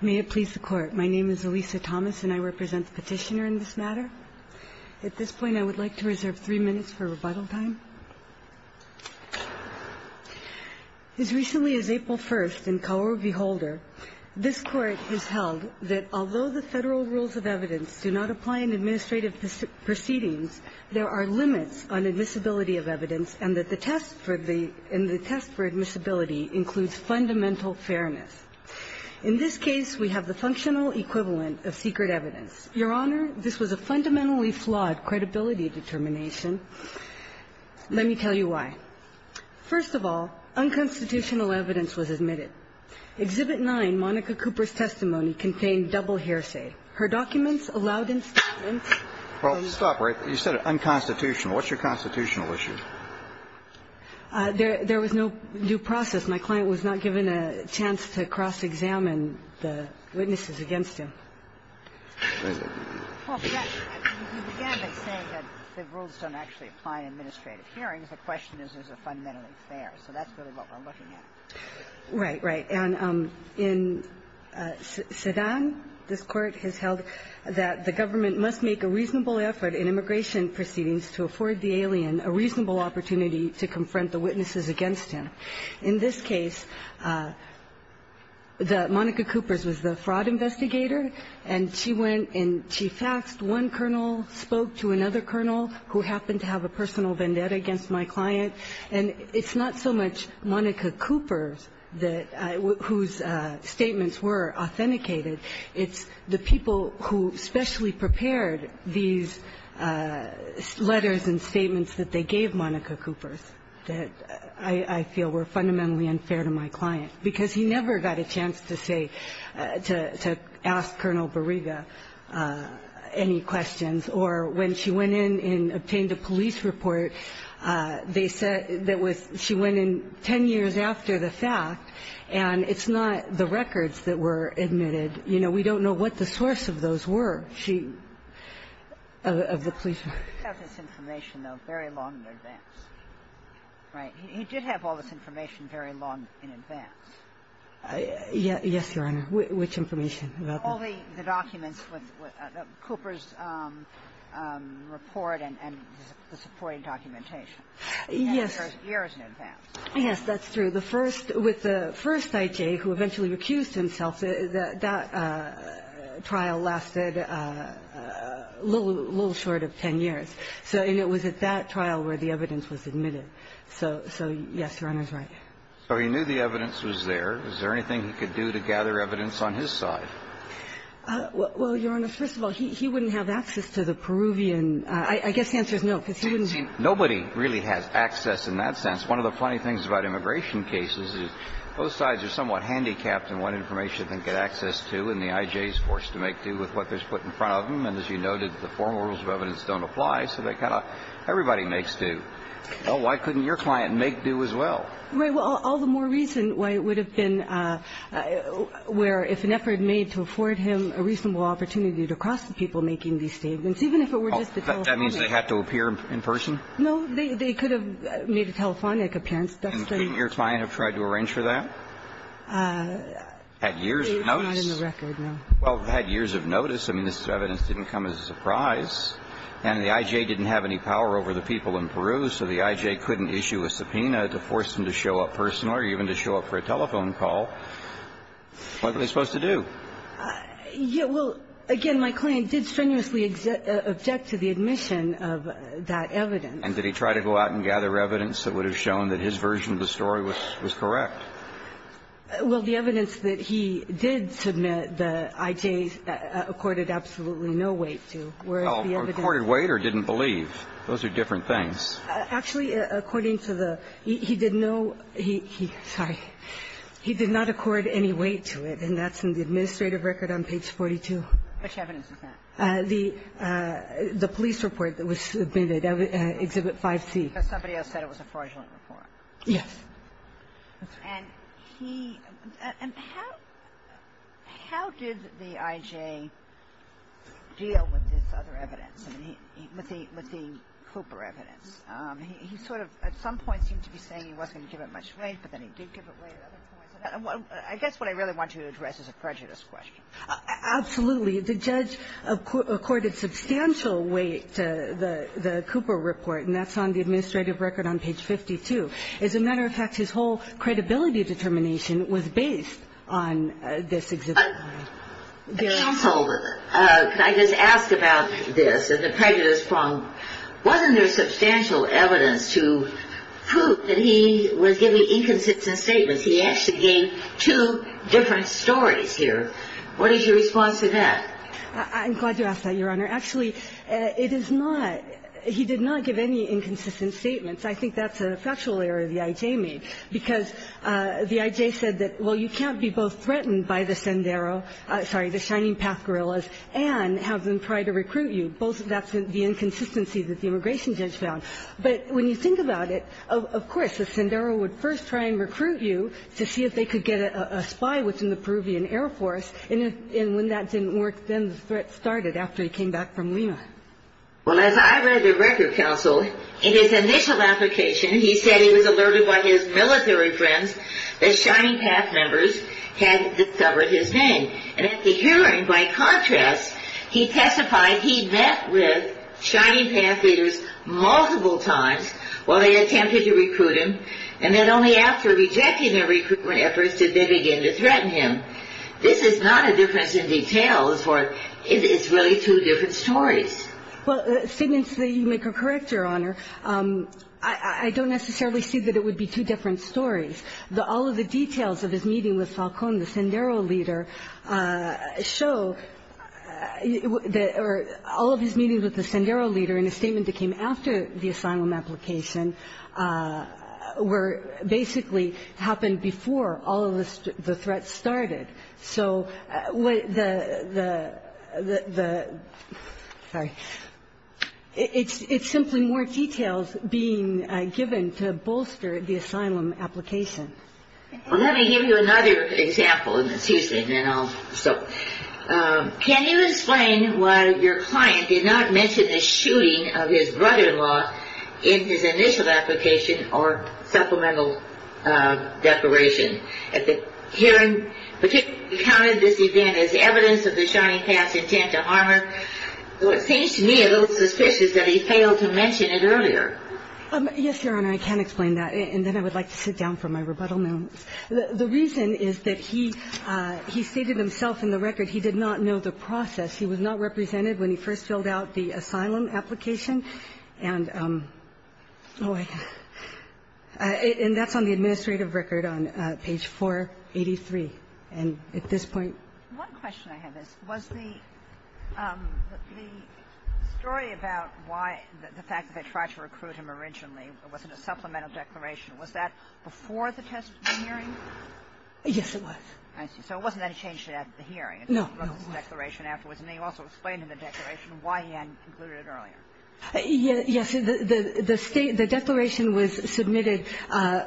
May it please the Court, my name is Elisa Thomas and I represent the petitioner in this matter. At this point, I would like to reserve three minutes for rebuttal time. As recently as April 1st in Kaworu v. Holder, this Court has held that although the federal rules of evidence do not apply in administrative proceedings, there are limits on admissibility of evidence and that the test for admissibility includes fundamental fairness. In this case, we have the functional equivalent of secret evidence. Your Honor, this was a fundamentally flawed credibility determination. Let me tell you why. First of all, unconstitutional evidence was admitted. Exhibit 9, Monica Cooper's testimony, contained double hearsay. Her documents allowed in statements. Well, stop. You said unconstitutional. What's your constitutional issue? There was no due process. My client was not given a chance to cross-examine the witnesses against him. Well, yes. You began by saying that the rules don't actually apply in administrative hearings. The question is, is it fundamentally fair? So that's really what we're looking at. Right, right. And in Sedan, this Court has held that the government must make a reasonable effort in immigration proceedings to afford the alien a reasonable opportunity to confront the witnesses against him. In this case, Monica Cooper was the fraud investigator, and she went and she faxed one colonel, spoke to another colonel, who happened to have a personal vendetta against my client, and it's not so much Monica Cooper whose statements were authenticated. It's the people who specially prepared these letters and statements that they gave to Monica Cooper that I feel were fundamentally unfair to my client, because he never got a chance to say to ask Colonel Bariga any questions. Or when she went in and obtained a police report, they said that she went in 10 years after the fact, and it's not the records that were admitted. You know, we don't know what the source of those were. She, of the police report. He did have this information, though, very long in advance, right? He did have all this information very long in advance. Yes, Your Honor. Which information? All the documents with Cooper's report and the supporting documentation. Yes. Years in advance. Yes, that's true. So the first, with the first I.J. who eventually recused himself, that trial lasted a little short of 10 years. And it was at that trial where the evidence was admitted. So, yes, Your Honor's right. So he knew the evidence was there. Is there anything he could do to gather evidence on his side? Well, Your Honor, first of all, he wouldn't have access to the Peruvian. I guess the answer is no, because he wouldn't. Nobody really has access in that sense. One of the funny things about immigration cases is both sides are somewhat handicapped in what information they get access to, and the I.J.'s forced to make do with what they're put in front of them. And as you noted, the formal rules of evidence don't apply, so they kind of – everybody makes do. Well, why couldn't your client make do as well? Right. Well, all the more reason why it would have been where if an effort made to afford him a reasonable opportunity to cross the people making these statements, even if it were just the telephone. That means they had to appear in person? No. They could have made a telephonic appearance. And couldn't your client have tried to arrange for that? Had years of notice? Not in the record, no. Well, had years of notice. I mean, this evidence didn't come as a surprise. And the I.J. didn't have any power over the people in Peru, so the I.J. couldn't issue a subpoena to force them to show up personally or even to show up for a telephone What were they supposed to do? Well, again, my client did strenuously object to the admission of that evidence. And did he try to go out and gather evidence that would have shown that his version of the story was correct? Well, the evidence that he did submit, the I.J. accorded absolutely no weight to, whereas the evidence – Well, accorded weight or didn't believe. Those are different things. Actually, according to the – he did no – he – sorry. He did not accord any weight to it, and that's in the administrative record on page 42. Which evidence is that? The police report that was submitted, Exhibit 5C. Because somebody else said it was a fraudulent report. Yes. And he – and how did the I.J. deal with this other evidence, with the Cooper evidence? He sort of at some point seemed to be saying he wasn't going to give it much weight, but then he did give it weight at other points. I guess what I really want to address is a prejudice question. Absolutely. The judge accorded substantial weight to the Cooper report, and that's on the administrative record on page 52. As a matter of fact, his whole credibility determination was based on this Exhibit 5. Counsel, can I just ask about this and the prejudice problem? Wasn't there substantial evidence to prove that he was giving inconsistent statements? He actually gave two different stories here. What is your response to that? I'm glad you asked that, Your Honor. Actually, it is not – he did not give any inconsistent statements. I think that's a factual error the I.J. made, because the I.J. said that, well, you can't be both threatened by the Shining Path guerrillas and have them try to recruit you. That's the inconsistency that the immigration judge found. But when you think about it, of course, the Sendero would first try and recruit you to see if they could get a spy within the Peruvian Air Force, and when that didn't work, then the threat started after he came back from Lima. Well, as I read the record, Counsel, in his initial application, he said he was alerted by his military friends that Shining Path members had discovered his name. And at the hearing, by contrast, he testified he'd met with Shining Path leaders multiple times while they attempted to recruit him, and that only after rejecting their recruitment efforts did they begin to threaten him. This is not a difference in details, or it's really two different stories. Well, the statements that you make are correct, Your Honor. I don't necessarily see that it would be two different stories. All of the details of his meeting with Falcón, the Sendero leader, show that all of his meetings with the Sendero leader and his statement that came after the asylum application were basically happened before all of the threats started. So the – sorry. It's simply more details being given to bolster the asylum application. Well, let me give you another example, and then I'll stop. Can you explain why your client did not mention the shooting of his brother-in-law in his initial application or supplemental declaration? Your Honor, I can't explain that, and then I would like to sit down for my rebuttal moments. The reason is that he stated himself in the record he did not know the process. He was not represented when he first filled out the asylum application, and – oh, I – and that's on the administrative record on page 17 of the report. And that's on page 483. And at this point – One question I have is, was the story about why the fact that they tried to recruit him originally, it wasn't a supplemental declaration, was that before the hearing? Yes, it was. I see. So it wasn't any change to that at the hearing. No. It was a declaration afterwards. And then you also explained in the declaration why he hadn't concluded it earlier. Yes. The state – the declaration was submitted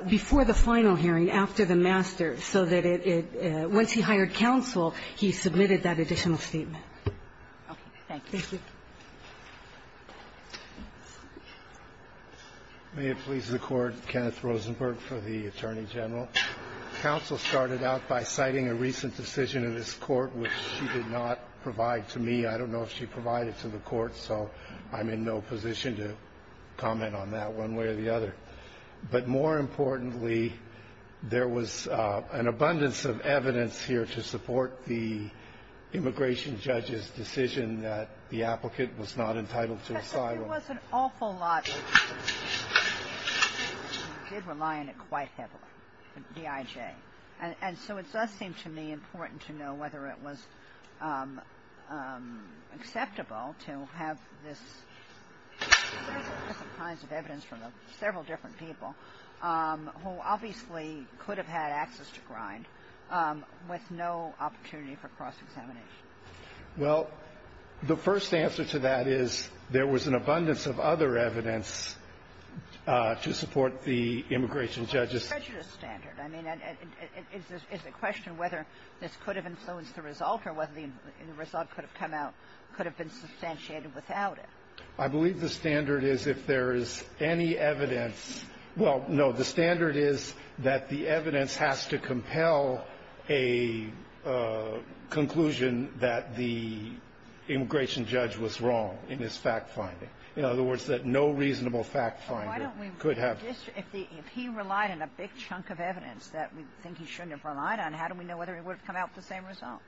before the final hearing after the master so that it – once he hired counsel, he submitted that additional statement. Okay. Thank you. Thank you. May it please the Court, Kenneth Rosenberg for the Attorney General. Counsel started out by citing a recent decision in this Court which she did not provide to me. I don't know if she provided to the Court, so I'm in no position to comment on that one way or the other. But more importantly, there was an abundance of evidence here to support the immigration judge's decision that the applicant was not entitled to asylum. There was an awful lot of evidence. She did rely on it quite heavily, the DIJ. And so it does seem to me important to know whether it was acceptable to have this different kinds of evidence from several different people who obviously could have had access to Grind with no opportunity for cross-examination. Well, the first answer to that is there was an abundance of other evidence to support the immigration judge's – Is the question whether this could have influenced the result or whether the result could have come out, could have been substantiated without it? I believe the standard is if there is any evidence – well, no. The standard is that the evidence has to compel a conclusion that the immigration judge was wrong in his fact-finding. In other words, that no reasonable fact-finder could have – If he relied on a big chunk of evidence that we think he shouldn't have relied on, how do we know whether it would have come out the same result?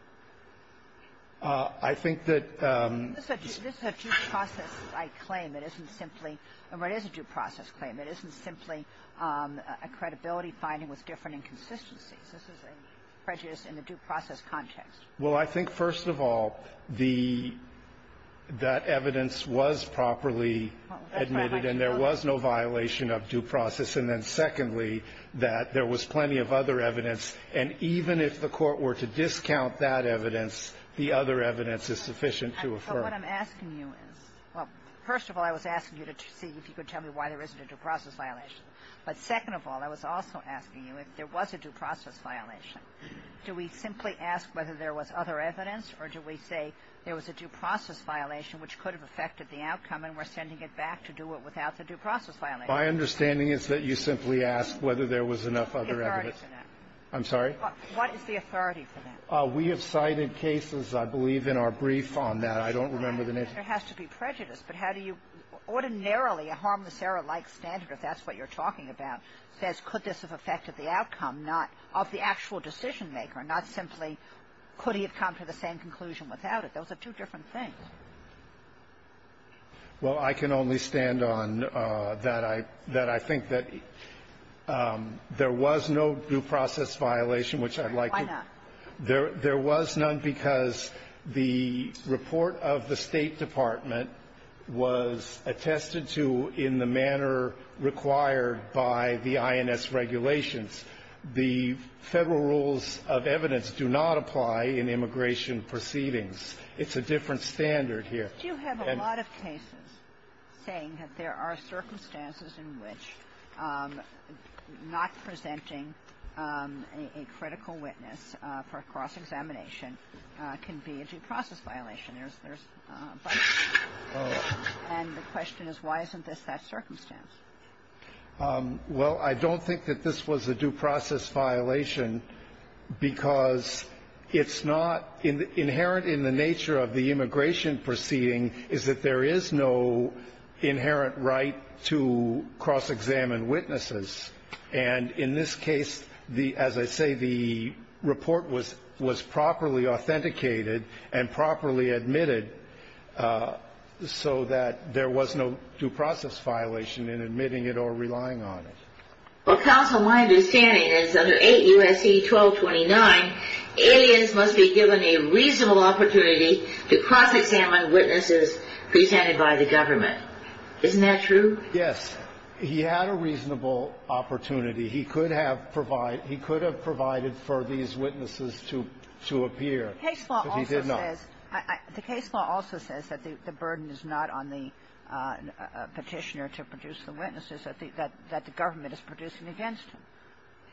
I think that – This is a due process-like claim. It isn't simply – or it is a due process claim. It isn't simply a credibility finding with different inconsistencies. This is a prejudice in the due process context. Well, I think, first of all, the – that evidence was properly admitted, and there was no violation of due process. And then, secondly, that there was plenty of other evidence. And even if the Court were to discount that evidence, the other evidence is sufficient to affirm. But what I'm asking you is – well, first of all, I was asking you to see if you could tell me why there isn't a due process violation. But second of all, I was also asking you if there was a due process violation. Do we simply ask whether there was other evidence, or do we say there was a due process violation which could have affected the outcome, and we're sending it back to do it without the due process violation? My understanding is that you simply ask whether there was enough other evidence. The authority for that. I'm sorry? What is the authority for that? We have cited cases, I believe, in our brief on that. I don't remember the name. There has to be prejudice. But how do you – ordinarily, a harmless error-like standard, if that's what you're talking about, says could this have affected the outcome, not – of the actual decision maker, not simply could he have come to the same conclusion without it. Those are two different things. Well, I can only stand on that I – that I think that there was no due process violation, which I'd like to – Why not? There was none because the report of the State Department was attested to in the manner required by the INS regulations. The Federal rules of evidence do not apply in immigration proceedings. It's a different standard here. But you have a lot of cases saying that there are circumstances in which not presenting a critical witness for cross-examination can be a due process violation. There's a bunch of them. And the question is, why isn't this that circumstance? Well, I don't think that this was a due process violation because it's not – inherent in the nature of the immigration proceeding is that there is no inherent right to cross-examine witnesses. And in this case, as I say, the report was properly authenticated and properly admitted so that there was no due process violation in admitting it or relying on it. Well, counsel, my understanding is under 8 U.S.C. 1229, aliens must be given a reasonable opportunity to cross-examine witnesses presented by the government. Isn't that true? Yes. He had a reasonable opportunity. He could have provided for these witnesses to appear. But he did not. The case law also says that the burden is not on the Petitioner to produce the witnesses, that the government is producing against him.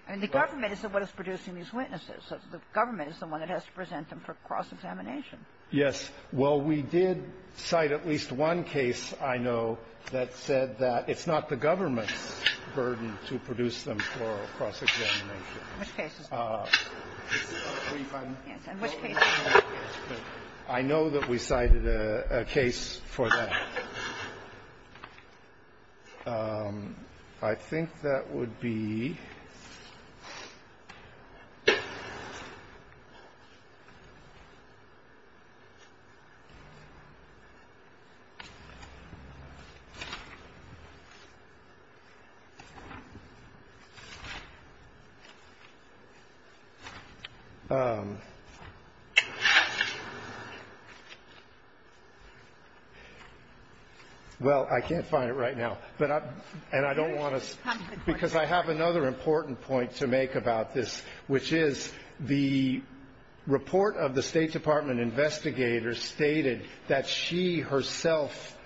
And the government is the one that's producing these witnesses. The government is the one that has to present them for cross-examination. Yes. Well, we did cite at least one case I know that said that it's not the government's burden to produce them for cross-examination. Which cases? I know that we cited a case for that. I think that would be Well, I can't find it right now. And I don't want to – because I have another important point to make about this, which is the report of the State Department investigators stated that she herself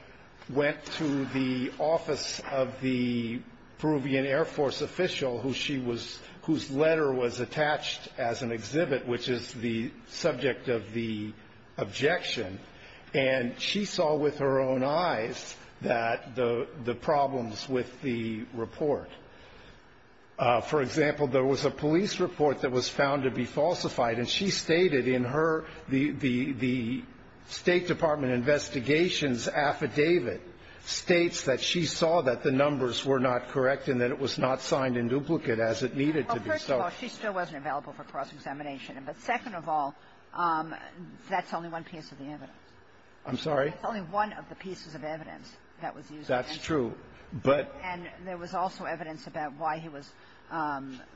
went to the office of the Peruvian Air Force official who she was – whose letter was attached as an exhibit, which is the subject of the objection. And she saw with her own eyes that – the problems with the report. For example, there was a police report that was found to be falsified. And she stated in her – the State Department investigations affidavit states that she saw that the numbers were not correct and that it was not signed in duplicate as it needed to be. Well, first of all, she still wasn't available for cross-examination. But second of all, that's only one piece of the evidence. I'm sorry? That's only one of the pieces of evidence that was used against him. That's true. But And there was also evidence about why he was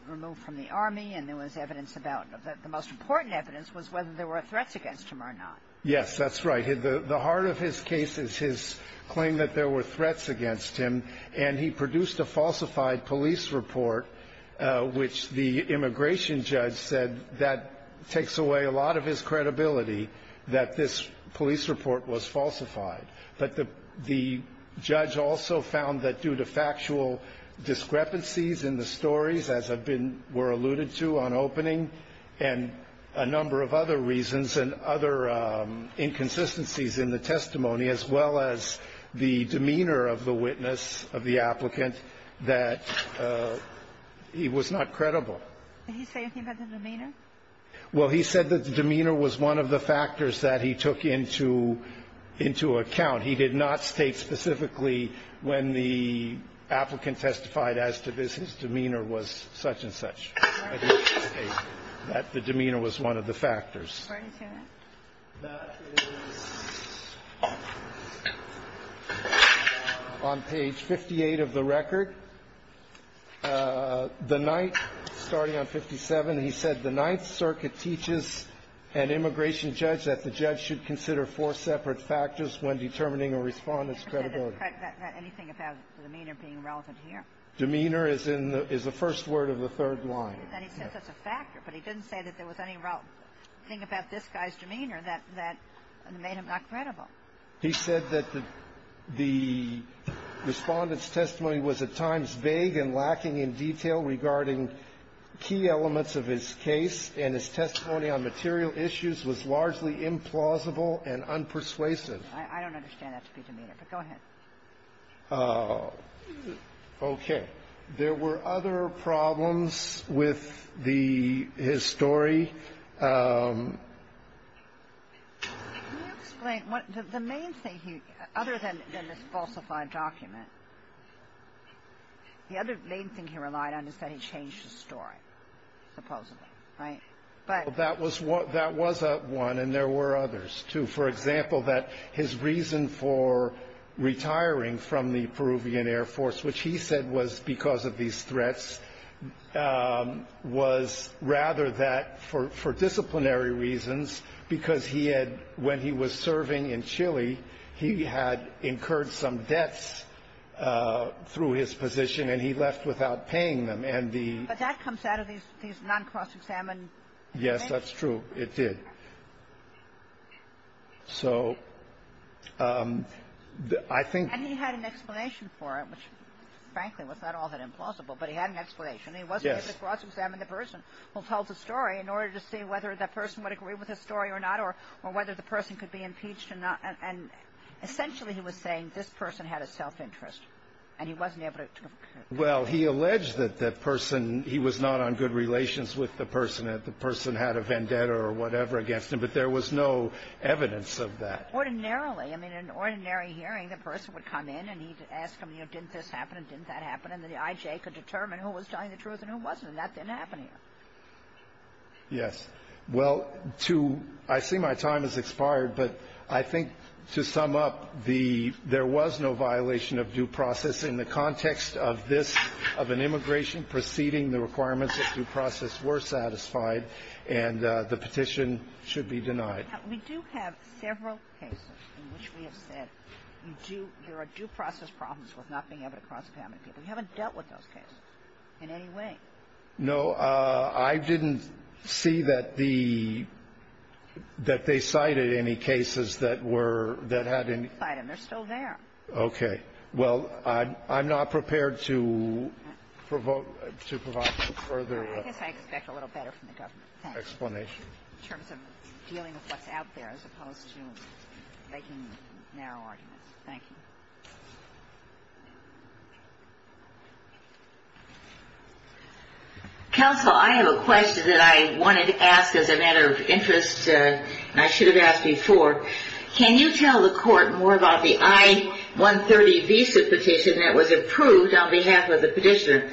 removed from the Army. And there was evidence about – the most important evidence was whether there were threats against him or not. Yes, that's right. The heart of his case is his claim that there were threats against him. And he produced a falsified police report, which the immigration judge said that takes away a lot of his credibility that this police report was falsified. But the judge also found that due to factual discrepancies in the stories, as were alluded to on opening, and a number of other reasons and other inconsistencies in the testimony, as well as the demeanor of the witness, of the applicant, that he was not credible. Did he say anything about the demeanor? Well, he said that the demeanor was one of the factors that he took into account. He did not state specifically when the applicant testified as to this, his demeanor was such and such. That the demeanor was one of the factors. That is on page 58 of the record. The Ninth, starting on 57, he said, The Ninth Circuit teaches an immigration judge that the judge should consider four separate factors when determining a Respondent's credibility. Anything about demeanor being relevant here? Demeanor is in the – is the first word of the third line. And he said that's a factor, but he didn't say that there was any thing about this guy's demeanor that made him not credible. He said that the Respondent's testimony was at times vague and lacking in detail regarding key elements of his case, and his testimony on material issues was largely implausible and unpersuasive. I don't understand that to be demeanor, but go ahead. Okay. There were other problems with the – his story. Can you explain what – the main thing he – other than this falsified document, the other main thing he relied on is that he changed his story, supposedly. Right? That was one, and there were others, too. For example, that his reason for retiring from the Peruvian Air Force, which he said was because of these threats, was rather that for disciplinary reasons, because he had – when he was serving in Chile, he had incurred some debts through his position, and he left without paying them. And the – But that comes out of these non-cross-examined things. Yes, that's true. It did. So I think – And he had an explanation for it, which, frankly, was not all that implausible, but he had an explanation. Yes. He wasn't able to cross-examine the person who told the story in order to see whether that person would agree with his story or not or whether the person could be impeached or not, and essentially he was saying this person had a self-interest, and he wasn't able to – Well, he alleged that the person – he was not on good relations with the person, that the person had a vendetta or whatever against him, but there was no evidence of that. Ordinarily. I mean, in an ordinary hearing, the person would come in and he'd ask him, you know, didn't this happen and didn't that happen, and then the I.J. could determine who was telling the truth and who wasn't, and that didn't happen here. Yes. Well, to – I see my time has expired, but I think to sum up the – there was no violation of due process in the context of this – of an immigration preceding the requirements of due process were satisfied, and the petition should be denied. We do have several cases in which we have said you do – there are due process problems with not being able to cross-examine people. You haven't dealt with those cases in any way. No. I didn't see that the – that they cited any cases that were – that had any – They didn't cite them. They're still there. Okay. Well, I'm not prepared to provoke – to provide further explanation. I guess I expect a little better from the government. Thank you. In terms of dealing with what's out there as opposed to making narrow arguments. Thank you. Counsel, I have a question that I wanted to ask as a matter of interest, and I should have asked before. Can you tell the Court more about the I-130 visa petition that was approved on behalf of the petitioner?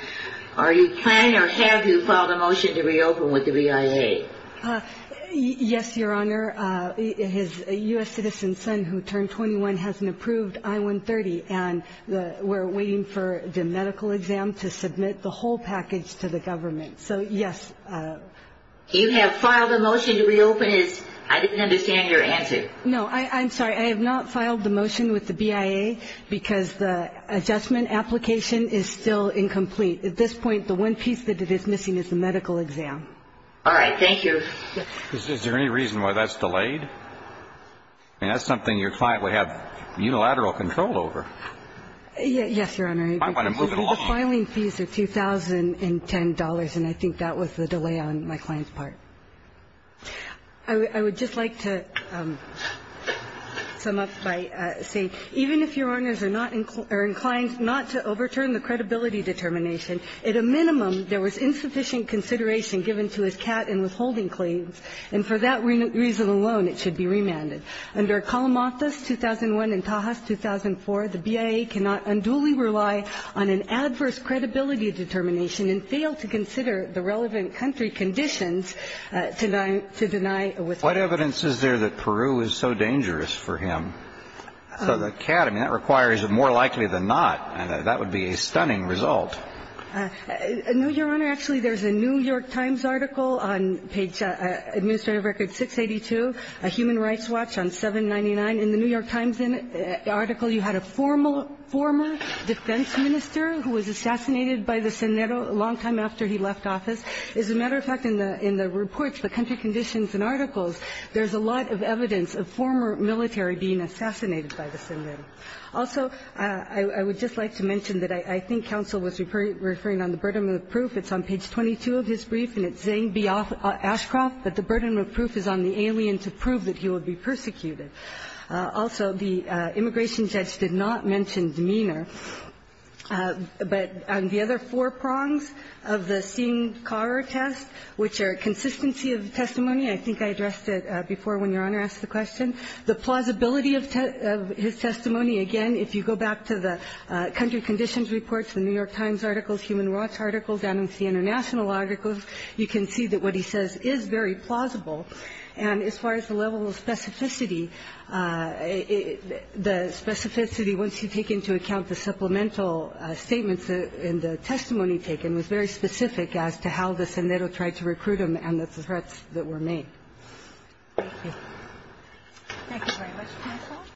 Are you planning or have you filed a motion to reopen with the BIA? Yes, Your Honor. His U.S. citizen son, who turned 21, has an approved I-130, and we're waiting for the medical exam to submit the whole package to the government. So, yes. You have filed a motion to reopen his – I didn't understand your answer. No, I'm sorry. I have not filed the motion with the BIA because the adjustment application is still incomplete. At this point, the one piece that it is missing is the medical exam. All right. Thank you. Is there any reason why that's delayed? I mean, that's something your client would have unilateral control over. Yes, Your Honor. I want to move it along. The filing fees are $2,010, and I think that was the delay on my client's part. I would just like to sum up by saying, even if Your Honors are not – are inclined not to overturn the credibility determination, at a minimum, there was insufficient consideration given to his CAT and withholding claims, and for that reason alone, it should be remanded. Under Kalamathas, 2001, and Tahas, 2004, the BIA cannot unduly rely on an adverse credibility determination and fail to consider the relevant country conditions to deny withholding. What evidence is there that Peru is so dangerous for him? So the CAT, I mean, that requires more likely than not, and that would be a stunning result. No, Your Honor. Actually, there's a New York Times article on page – Administrative Record 682, a human rights watch on 799. In the New York Times article, you had a formal – former defense minister who was assassinated by the Senero a long time after he left office. As a matter of fact, in the – in the reports, the country conditions and articles, there's a lot of evidence of former military being assassinated by the Senero. Also, I would just like to mention that I think counsel was referring on the burden of proof. It's on page 22 of his brief, and it's saying, be off – Ashcroft, that the burden of proof is on the alien to prove that he will be persecuted. Also, the immigration judge did not mention demeanor, but on the other four prongs of the Singh-Carr test, which are consistency of testimony, I think I addressed it before when Your Honor asked the question, the plausibility of his testimony. Again, if you go back to the country conditions reports, the New York Times articles, human rights articles, and the international articles, you can see that what he says is very plausible. And as far as the level of specificity, the specificity, once you take into account the supplemental statements in the testimony taken, was very specific as to how the Senero tried to recruit him and the threats that were made. Thank you. Thank you very much, counsel.